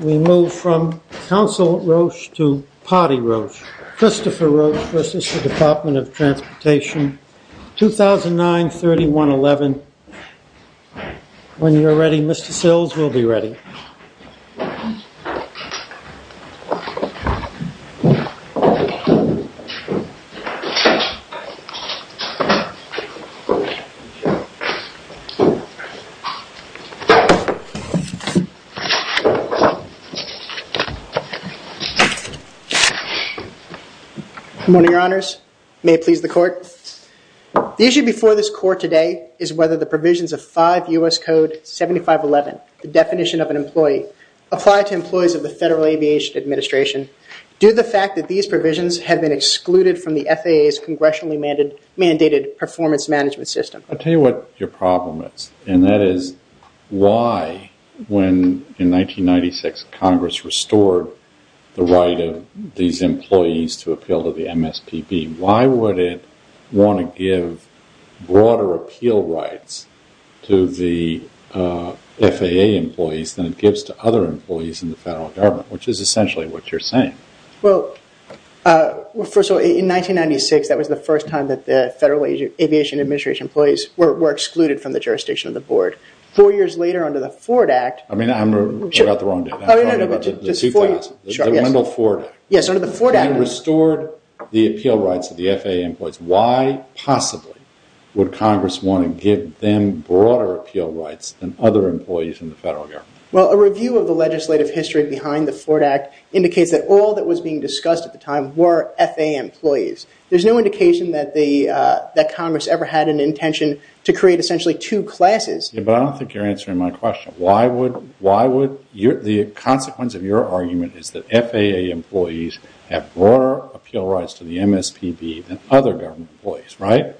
We move from Council Roche to Potty Roche, Christopher Roche v. Department of Transportation, 2009-31-11. When you're ready, Mr. Sills, we'll be ready. Good morning, Your Honors. May it please the Court. The issue before this Court today is whether the provisions of 5 U.S. Code 7511, the definition of an employee, apply to employees of the Federal Aviation Administration, due to the fact that these provisions have been excluded from the FAA's congressionally mandated performance management system. I'll tell you what your problem is, and that is why, when in 1996 Congress restored the right of these employees to appeal to the MSPB, why would it want to give broader appeal rights to the FAA employees than it gives to other employees in the Federal Government, which is essentially what you're saying. Well, first of all, in 1996, that was the first time that the Federal Aviation Administration employees were excluded from the jurisdiction of the Board. Four years later, under the Ford Act... I mean, I'm about the wrong date. Oh, no, no, no, just four years. The Wendell Ford Act. Yes, under the Ford Act. They restored the appeal rights of the FAA employees. Why, possibly, would Congress want to give them broader appeal rights than other employees in the Federal Government? Well, a review of the legislative history behind the Ford Act indicates that all that was being discussed at the time were FAA employees. There's no indication that Congress ever had an intention to create, essentially, two classes. Yeah, but I don't think you're answering my question. The consequence of your argument is that FAA employees have broader appeal rights to the MSPB than other government employees, right?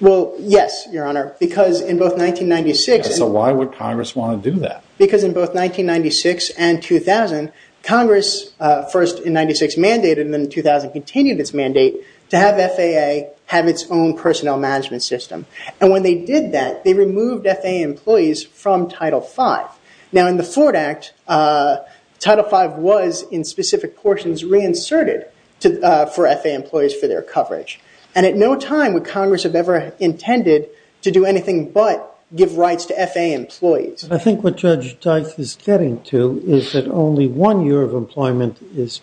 Well, yes, Your Honor, because in both 1996... So why would Congress want to do that? Because in both 1996 and 2000, Congress, first in 1996, mandated, and then in 2000 continued its mandate, to have FAA have its own personnel management system. And when they did that, they removed FAA employees from Title V. Now, in the Ford Act, Title V was, in specific portions, reinserted for FAA employees for their coverage. And at no time would Congress have ever intended to do anything but give rights to FAA employees. I think what Judge Dice is getting to is that only one year of employment is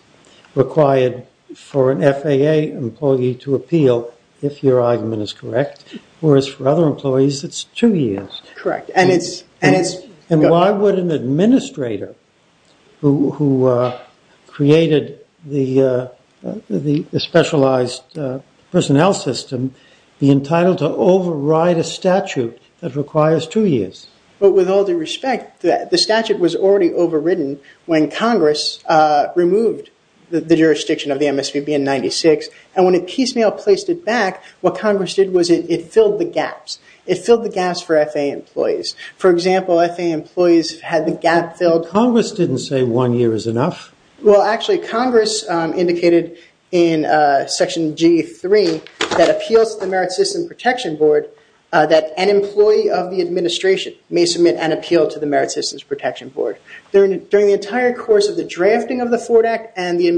required for an FAA employee to appeal, if your argument is correct. Whereas for other employees, it's two years. Correct. And it's... be entitled to override a statute that requires two years. But with all due respect, the statute was already overridden when Congress removed the jurisdiction of the MSPB in 1996. And when it piecemeal placed it back, what Congress did was it filled the gaps. It filled the gaps for FAA employees. For example, FAA employees had the gap filled... Congress didn't say one year is enough. Well, actually, Congress indicated in Section G3 that appeals to the Merit Systems Protection Board, that an employee of the administration may submit an appeal to the Merit Systems Protection Board. During the entire course of the drafting of the Ford Act and the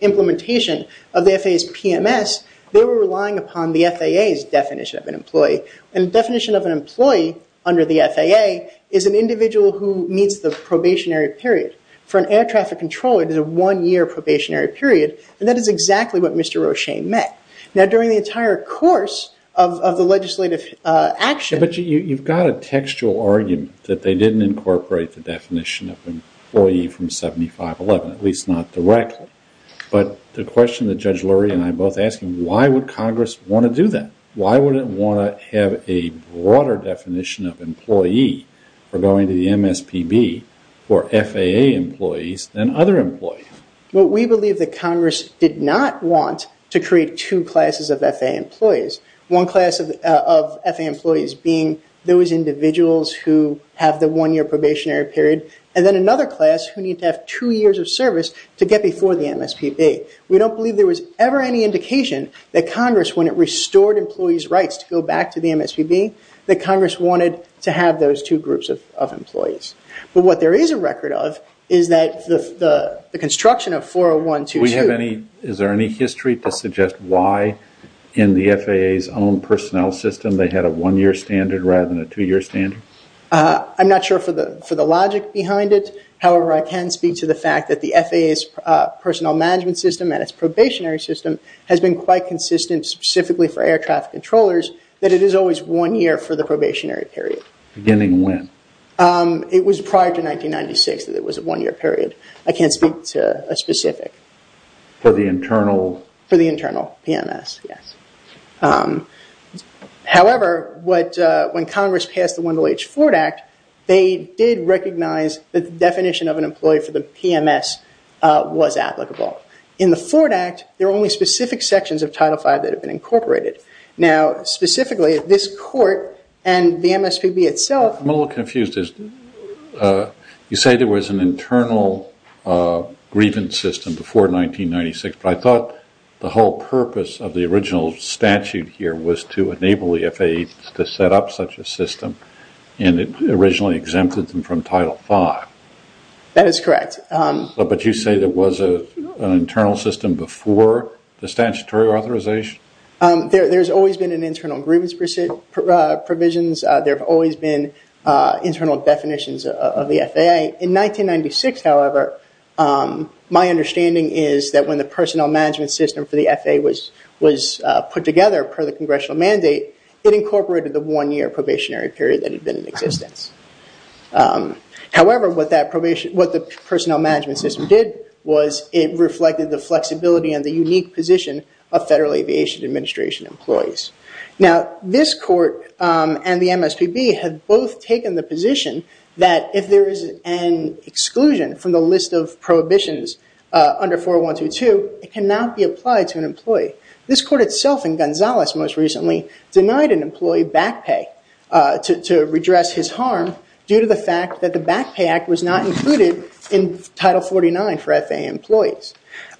implementation of the FAA's PMS, they were relying upon the FAA's definition of an employee. And the definition of an employee under the FAA is an individual who meets the probationary period. For an air traffic controller, it is a one-year probationary period. And that is exactly what Mr. Roche met. Now, during the entire course of the legislative action... But you've got a textual argument that they didn't incorporate the definition of employee from 7511, at least not directly. But the question that Judge Lurie and I are both asking, why would Congress want to do that? Why would it want to have a broader definition of employee for going to the MSPB for FAA employees than other employees? Well, we believe that Congress did not want to create two classes of FAA employees. One class of FAA employees being those individuals who have the one-year probationary period, and then another class who need to have two years of service to get before the MSPB. We don't believe there was ever any indication that Congress, when it restored employees' rights to go back to the MSPB, that Congress wanted to have those two groups of employees. But what there is a record of is that the construction of 401-22... Is there any history to suggest why in the FAA's own personnel system they had a one-year standard rather than a two-year standard? I'm not sure for the logic behind it. However, I can speak to the fact that the FAA's personnel management system and its probationary system has been quite consistent specifically for air traffic controllers, that it is always one year for the probationary period. Beginning when? It was prior to 1996 that it was a one-year period. I can't speak to a specific. For the internal... For the internal PMS, yes. However, when Congress passed the Wendell H. Ford Act, they did recognize that the definition of an employee for the PMS was applicable. In the Ford Act, there are only specific sections of Title V that have been incorporated. Now, specifically, this court and the MSPB itself... I'm a little confused. You say there was an internal grievance system before 1996, but I thought the whole purpose of the original statute here was to enable the FAA to set up such a system and it originally exempted them from Title V. That is correct. But you say there was an internal system before the statutory authorization? There's always been an internal grievance provisions. There have always been internal definitions of the FAA. In 1996, however, my understanding is that when the personnel management system for the FAA was put together per the congressional mandate, it incorporated the one-year probationary period that had been in existence. However, what the personnel management system did was it reflected the flexibility and the unique position of Federal Aviation Administration employees. Now, this court and the MSPB have both taken the position that if there is an exclusion from the list of prohibitions under 4122, it cannot be applied to an employee. This court itself and Gonzales most recently denied an employee back pay to redress his harm due to the fact that the Back Pay Act was not included in Title 49 for FAA employees.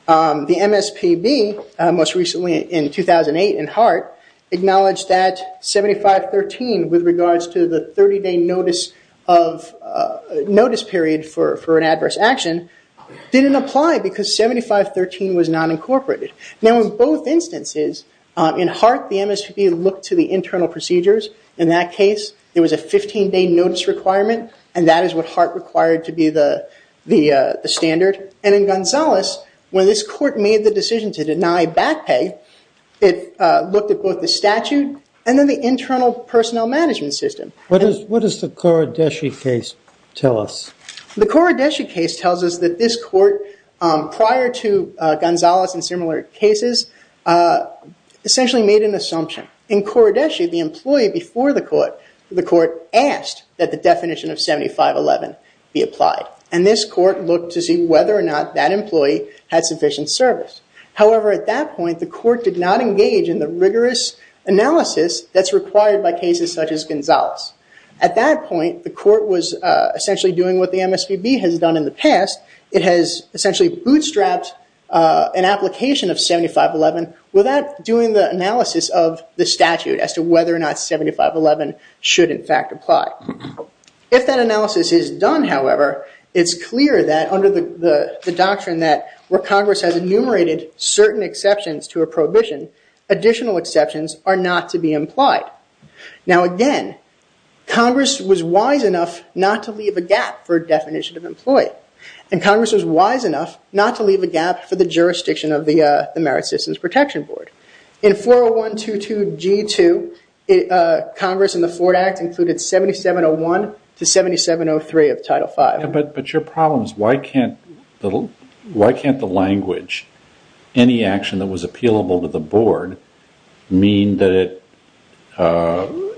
The MSPB, most recently in 2008 in Hart, acknowledged that 7513 with regards to the 30-day notice period for an adverse action didn't apply because 7513 was not incorporated. Now, in both instances, in Hart, the MSPB looked to the internal procedures. In that case, there was a 15-day notice requirement and that is what Hart required to be the standard. And in Gonzales, when this court made the decision to deny back pay, it looked at both the statute and then the internal personnel management system. What does the Korodeshi case tell us? The Korodeshi case tells us that this court, prior to Gonzales and similar cases, essentially made an assumption. In Korodeshi, the employee before the court asked that the definition of 7511 be applied. And this court looked to see whether or not that employee had sufficient service. However, at that point, the court did not engage in the rigorous analysis that's required by cases such as Gonzales. At that point, the court was essentially doing what the MSPB has done in the past. It has essentially bootstrapped an application of 7511 without doing the analysis of the statute as to whether or not 7511 should, in fact, apply. If that analysis is done, however, it's clear that under the doctrine that where Congress has enumerated certain exceptions to a prohibition, additional exceptions are not to be implied. Now again, Congress was wise enough not to leave a gap for definition of employee. And Congress was wise enough not to leave a gap for the jurisdiction of the Merit Systems Protection Board. In 40122G2, Congress in the Ford Act included 7701 to 7703 of Title V. But your problem is why can't the language, any action that was appealable to the board, mean that it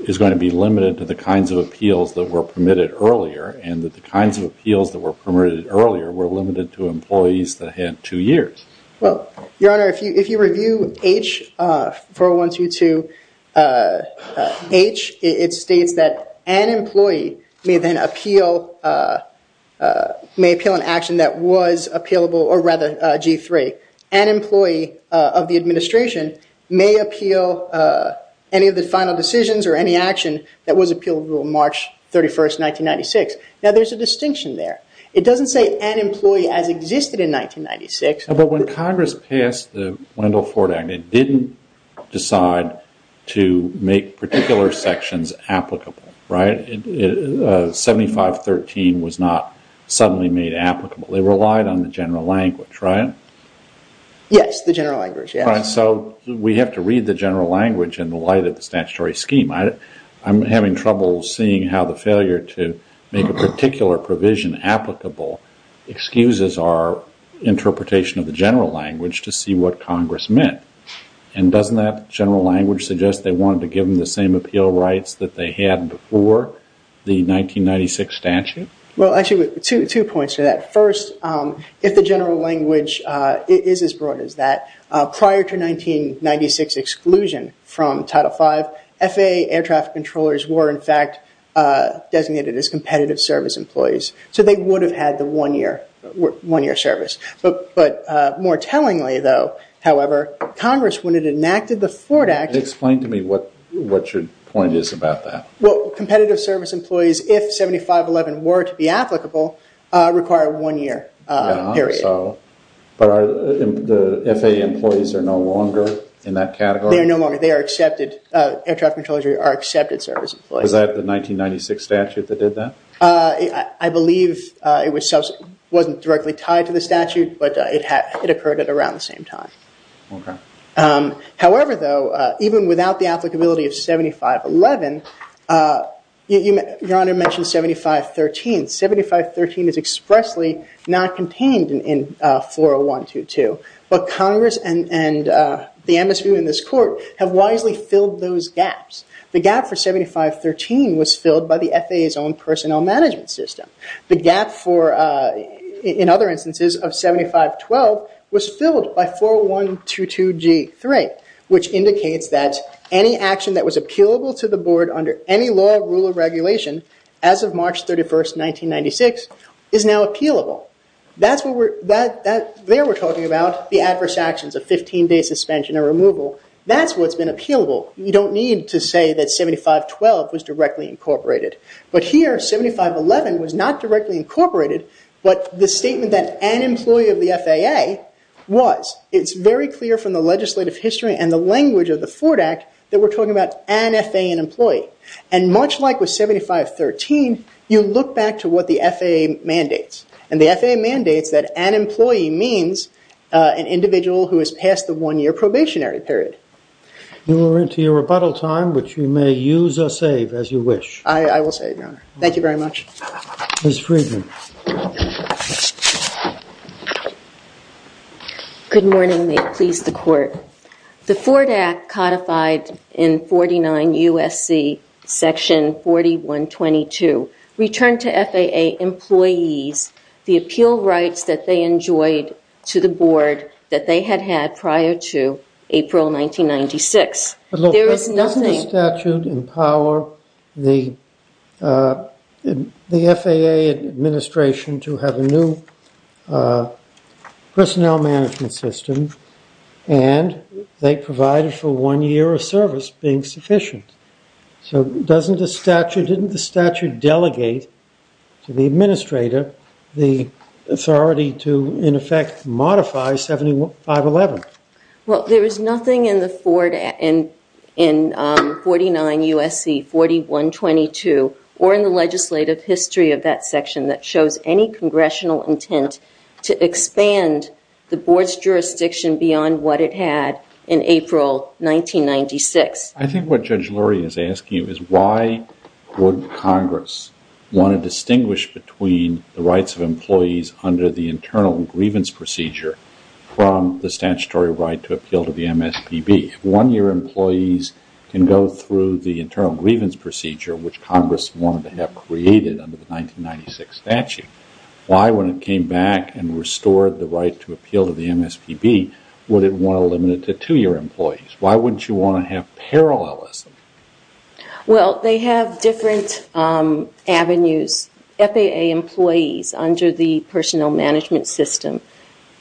is going to be limited to the kinds of appeals that were permitted earlier and that the kinds of appeals that were permitted earlier were limited to employees that had two years? Well, Your Honor, if you review H, 40122H, it states that an employee may then appeal, may appeal an action that was appealable, or rather G3, an employee of the administration may appeal any of the final decisions or any action that was appealable March 31st, 1996. Now there's a distinction there. It doesn't say an employee as existed in 1996. But when Congress passed the Wendell Ford Act, it didn't decide to make particular sections applicable, right? 7513 was not suddenly made applicable. They relied on the general language, right? Yes, the general language, yes. So we have to read the general language in the light of the statutory scheme. I'm having trouble seeing how the failure to make a particular provision applicable excuses our interpretation of the general language to see what Congress meant. And doesn't that general language suggest they wanted to give them the same appeal rights that they had before the 1996 statute? Well, actually, two points to that. First, if the general language is as broad as that, prior to 1996 exclusion from Title V, FAA air traffic controllers were, in fact, designated as competitive service employees. So they would have had the one-year service. But more tellingly, though, however, Congress, when it enacted the Ford Act- Explain to me what your point is about that. Well, competitive service employees, if 7511 were to be applicable, require a one-year period. But the FAA employees are no longer in that category? They are no longer. They are accepted. Air traffic controllers are accepted service employees. Was that the 1996 statute that did that? I believe it wasn't directly tied to the statute, but it occurred at around the same time. OK. However, though, even without the applicability of 7511, Your Honor mentioned 7513. 7513 is expressly not contained in 40122. But Congress and the ambassador in this court have wisely filled those gaps. The gap for 7513 was filled by the FAA's own personnel management system. The gap for, in other instances, of 7512 was filled by 40122G3, which indicates that any action that was appealable to the board under any law, rule, or regulation as of March 31st, 1996, is now appealable. There we're talking about the adverse actions of 15-day suspension or removal. That's what's been appealable. You don't need to say that 7512 was directly incorporated. But here, 7511 was not directly incorporated, but the statement that an employee of the FAA was. It's very clear from the legislative history and the language of the Ford Act that we're talking about an FAA employee. And much like with 7513, you look back to what the FAA mandates. And the FAA mandates that an employee means an individual who has passed the one-year probationary period. You are into your rebuttal time, which you may use or save as you wish. I will save, Your Honor. Thank you very much. Ms. Friedman. Good morning. May it please the Court. The Ford Act, codified in 49 U.S.C. section 4122, returned to FAA employees the appeal rights that they enjoyed to the board that they had had prior to April 1996. Doesn't the statute empower the FAA administration to have a new personnel management system and they provided for one year of service being sufficient? So doesn't the statute, didn't the statute delegate to the administrator the authority to, in effect, modify 7511? Well, there is nothing in 49 U.S.C. 4122 or in the legislative history of that section that shows any congressional intent to expand the board's jurisdiction beyond what it had in April 1996. I think what Judge Lurie is asking you is why would Congress want to distinguish between the rights of employees under the internal grievance procedure from the statutory right to appeal to the MSPB? One-year employees can go through the internal grievance procedure, which Congress wanted to have created under the 1996 statute. Why, when it came back and restored the right to appeal to the MSPB, would it want to limit it to two-year employees? Why wouldn't you want to have parallelism? Well, they have different avenues. FAA employees under the personnel management system,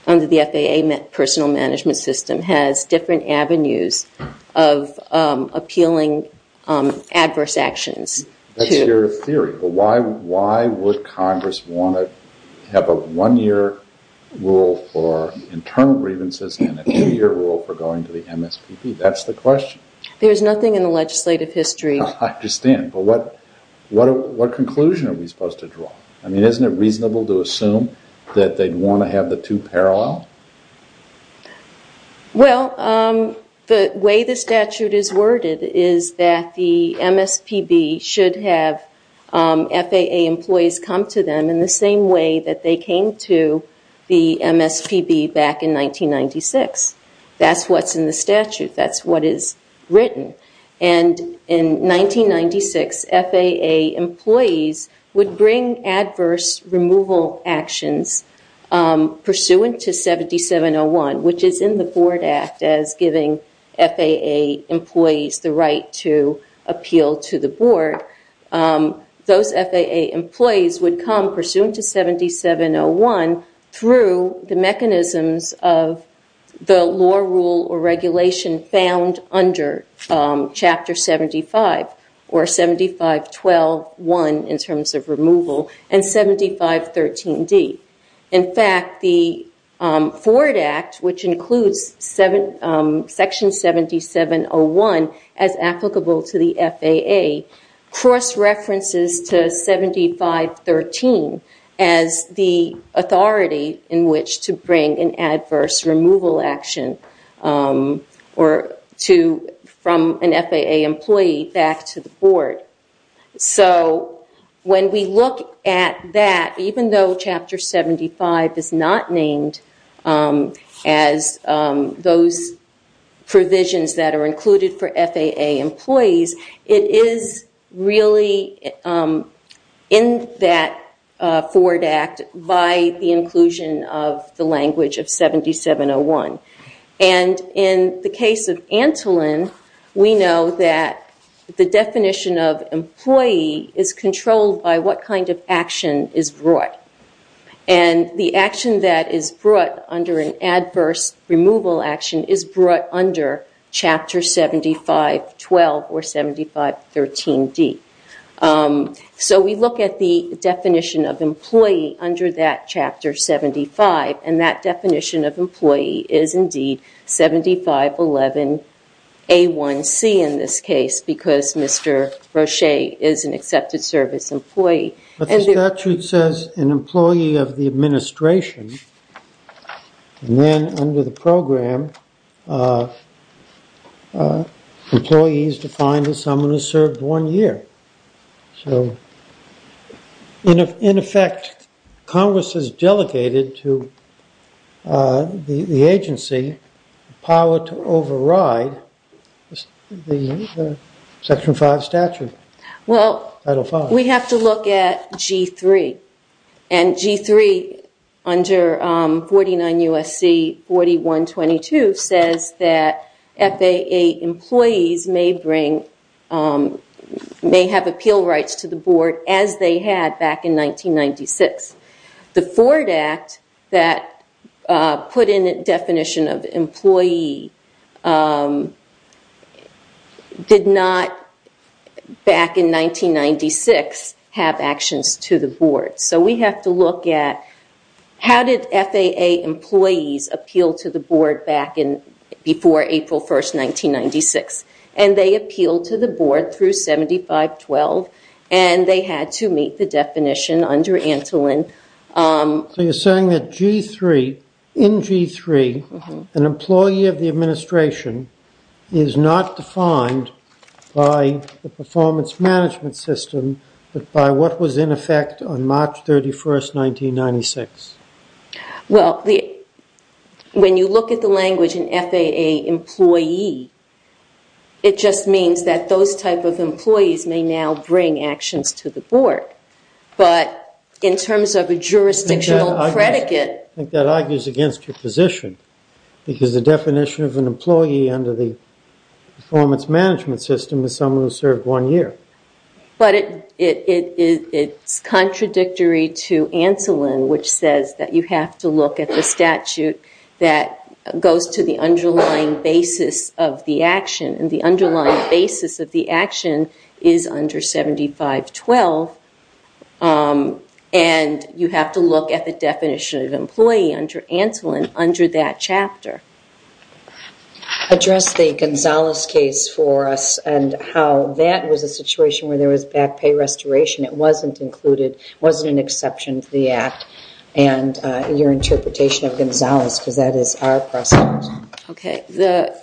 under the FAA personnel management system has different avenues of appealing adverse actions. That's your theory. But why would Congress want to have a one-year rule for internal grievances and a two-year rule for going to the MSPB? That's the question. There's nothing in the legislative history. I understand. But what conclusion are we supposed to draw? I mean, isn't it reasonable to assume that they'd want to have the two parallel? Well, the way the statute is worded is that the MSPB should have FAA employees come to them in the same way that they came to the MSPB back in 1996. That's what's in the statute. That's what is written. And in 1996, FAA employees would bring adverse removal actions pursuant to 7701, which is in the Board Act as giving FAA employees the right to appeal to the Board. Those FAA employees would come pursuant to 7701 through the mechanisms of the law, rule, or regulation found under Chapter 75, or 75.12.1 in terms of removal, and 75.13.D. In fact, the Board Act, which includes Section 7701 as applicable to the FAA, cross-references to 75.13 as the authority in which to bring an adverse removal action from an FAA employee back to the Board. So when we look at that, even though Chapter 75 is not named as those provisions that are included for FAA employees, it is really in that forward act by the inclusion of the language of 7701. And in the case of Antolin, we know that the definition of employee is controlled by what kind of action is brought. And the action that is brought under an adverse removal action is brought under Chapter 75.12 or 75.13.D. So we look at the definition of employee under that Chapter 75, and that definition of employee is indeed 75.11.A.1.C. in this case, because Mr. Roche is an accepted service employee. But the statute says an employee of the administration, and then under the program, employees defined as someone who served one year. So in effect, Congress has delegated to the agency power to override the Section 5 statute. Well, we have to look at G3. And G3 under 49 U.S.C. 4122 says that FAA employees may have appeal rights to the Board as they had back in 1996. The forward act that put in a definition of employee did not, back in 1996, have actions to the Board. So we have to look at how did FAA employees appeal to the Board back before April 1, 1996. And they appealed to the Board through 75.12, and they had to meet the definition under Antolin. So you're saying that in G3, an employee of the administration is not defined by the performance management system, but by what was in effect on March 31, 1996. Well, when you look at the language in FAA employee, it just means that those type of employees may now bring actions to the Board. But in terms of a jurisdictional predicate... I think that argues against your position, because the definition of an employee under the performance management system is someone who served one year. But it's contradictory to Antolin, which says that you have to look at the statute that goes to the underlying basis of the action. And the underlying basis of the action is under 75.12. And you have to look at the definition of employee under Antolin under that chapter. Address the Gonzalez case for us and how that was a situation where there was back pay restoration. It wasn't included. It wasn't an exception to the Act. And your interpretation of Gonzalez, because that is our precedent. Okay. The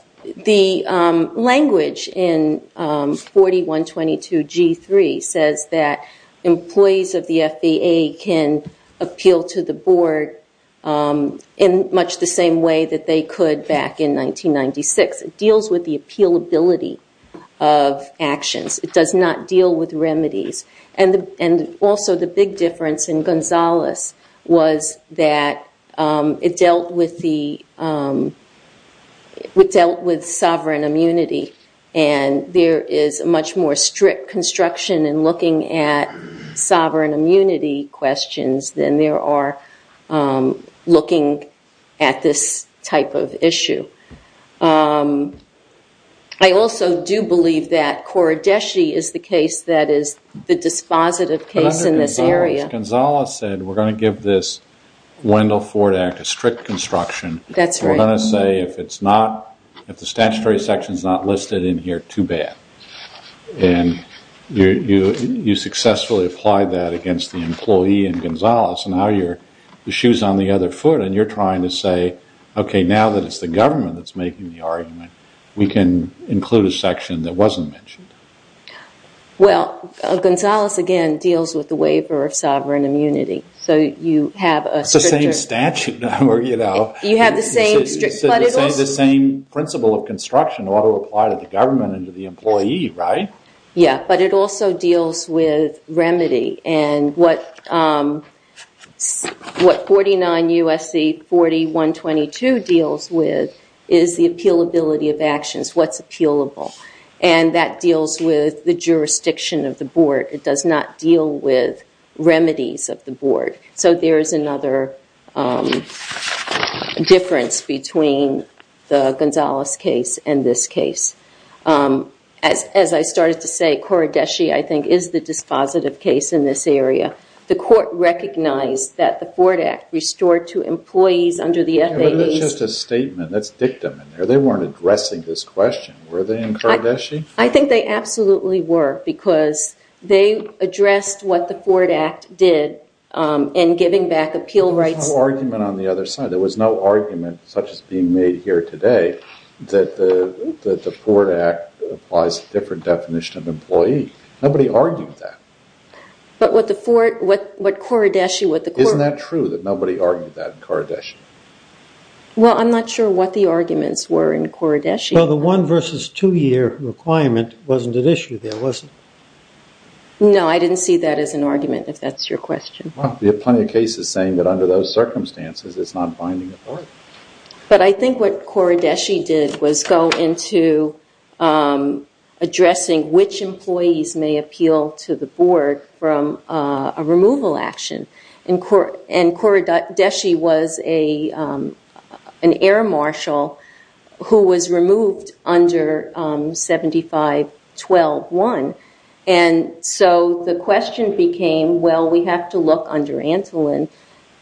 language in 41.22.G3 says that employees of the FAA can appeal to the Board in much the same way that they could back in 1996. It deals with the appealability of actions. It does not deal with remedies. And also the big difference in Gonzalez was that it dealt with sovereign immunity. And there is a much more strict construction in looking at sovereign immunity questions than there are looking at this type of issue. I also do believe that Coridesi is the case that is the dispositive case in this area. Gonzalez said we're going to give this Wendell Ford Act a strict construction. That's right. We're going to say if the statutory section is not listed in here, too bad. And you successfully applied that against the employee in Gonzalez. Now the shoe is on the other foot and you're trying to say, okay, now that it's the government that's making the argument, we can include a section that wasn't mentioned. Well, Gonzalez, again, deals with the waiver of sovereign immunity. So you have a stricter... It's the same statute. You have the same strict... The same principle of construction ought to apply to the government and to the employee, right? Yeah, but it also deals with remedy. And what 49 U.S.C. 40-122 deals with is the appealability of actions, what's appealable. And that deals with the jurisdiction of the board. So there is another difference between the Gonzalez case and this case. As I started to say, Coridesi, I think, is the dispositive case in this area. The court recognized that the Ford Act restored to employees under the FAA... But that's just a statement. That's dictum in there. They weren't addressing this question. Were they in Coridesi? I think they absolutely were because they addressed what the Ford Act did in giving back appeal rights. There was no argument on the other side. There was no argument, such as being made here today, that the Ford Act applies a different definition of employee. Nobody argued that. But what Coridesi... Isn't that true that nobody argued that in Coridesi? Well, I'm not sure what the arguments were in Coridesi. Well, the one versus two year requirement wasn't at issue there, was it? No, I didn't see that as an argument, if that's your question. There are plenty of cases saying that under those circumstances, it's not binding the board. But I think what Coridesi did was go into addressing which employees may appeal to the board from a removal action. And Coridesi was an air marshal who was removed under 75-12-1. And so the question became, well, we have to look under Antolin.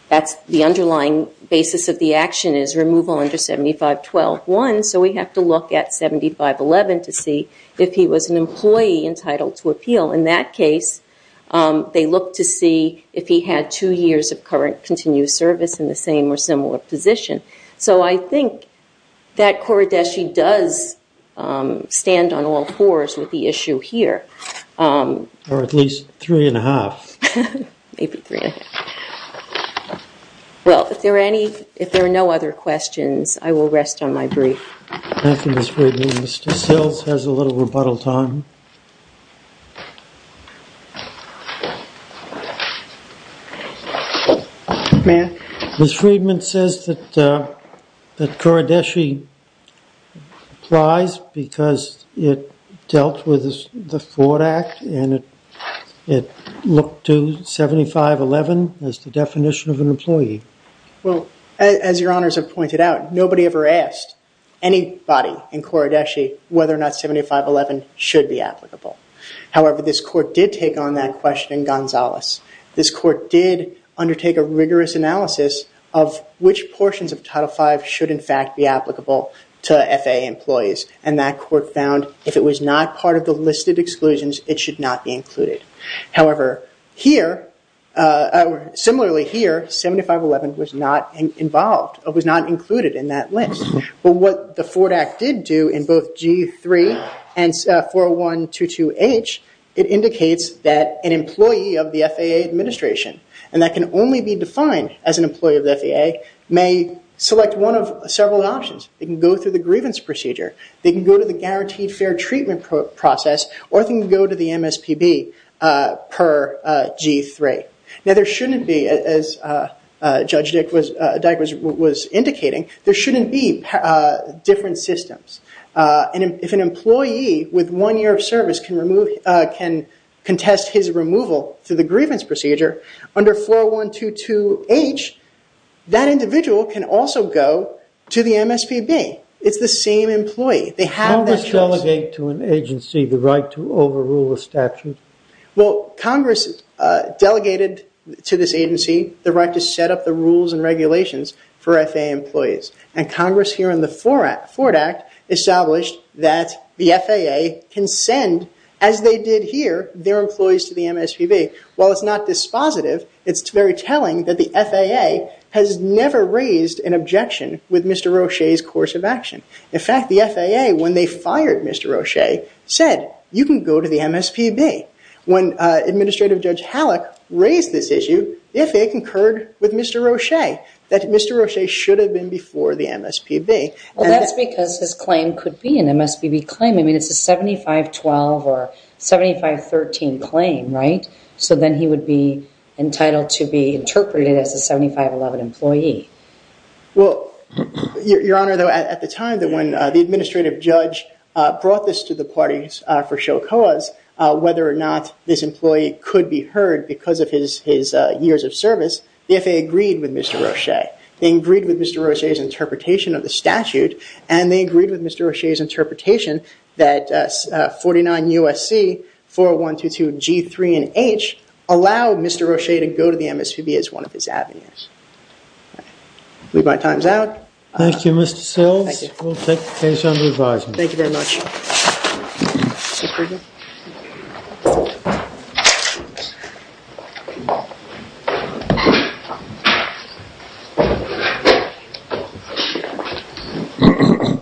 That's the underlying basis of the action is removal under 75-12-1. So we have to look at 75-11 to see if he was an employee entitled to appeal. Well, in that case, they looked to see if he had two years of current continuous service in the same or similar position. So I think that Coridesi does stand on all fours with the issue here. Or at least three and a half. Maybe three and a half. Well, if there are no other questions, I will rest on my brief. Thank you, Ms. Freedman. Mr. Sills has a little rebuttal time. May I? Ms. Freedman says that Coridesi applies because it dealt with the Ford Act. And it looked to 75-11 as the definition of an employee. Well, as your honors have pointed out, nobody ever asked anybody in Coridesi whether or not 75-11 should be applicable. However, this court did take on that question in Gonzales. This court did undertake a rigorous analysis of which portions of Title V should in fact be applicable to FAA employees. And that court found if it was not part of the listed exclusions, it should not be included. However, similarly here, 75-11 was not included in that list. But what the Ford Act did do in both G-3 and 401-22H, it indicates that an employee of the FAA administration, and that can only be defined as an employee of the FAA, may select one of several options. They can go through the grievance procedure. They can go to the guaranteed fair treatment process. Or they can go to the MSPB per G-3. Now there shouldn't be, as Judge Dyck was indicating, there shouldn't be different systems. And if an employee with one year of service can contest his removal through the grievance procedure, under 401-22H, that individual can also go to the MSPB. It's the same employee. They have that choice. Congress delegate to an agency the right to overrule a statute? Well, Congress delegated to this agency the right to set up the rules and regulations for FAA employees. And Congress here in the Ford Act established that the FAA can send, as they did here, their employees to the MSPB. While it's not dispositive, it's very telling that the FAA has never raised an objection with Mr. Roche's course of action. In fact, the FAA, when they fired Mr. Roche, said you can go to the MSPB. When Administrative Judge Hallock raised this issue, the FAA concurred with Mr. Roche, that Mr. Roche should have been before the MSPB. Well, that's because his claim could be an MSPB claim. I mean, it's a 75-12 or 75-13 claim, right? So then he would be entitled to be interpreted as a 75-11 employee. Well, Your Honor, though, at the time when the Administrative Judge brought this to the parties for show cause, whether or not this employee could be heard because of his years of service, the FAA agreed with Mr. Roche. They agreed with Mr. Roche's interpretation of the statute, and they agreed with Mr. Roche's interpretation that 49 U.S.C. 4122 G3 and H allow Mr. Roche to go to the MSPB as one of his avenues. I believe my time is out. Thank you, Mr. Sills. Thank you. We'll take the case under revising. Thank you very much. Thank you.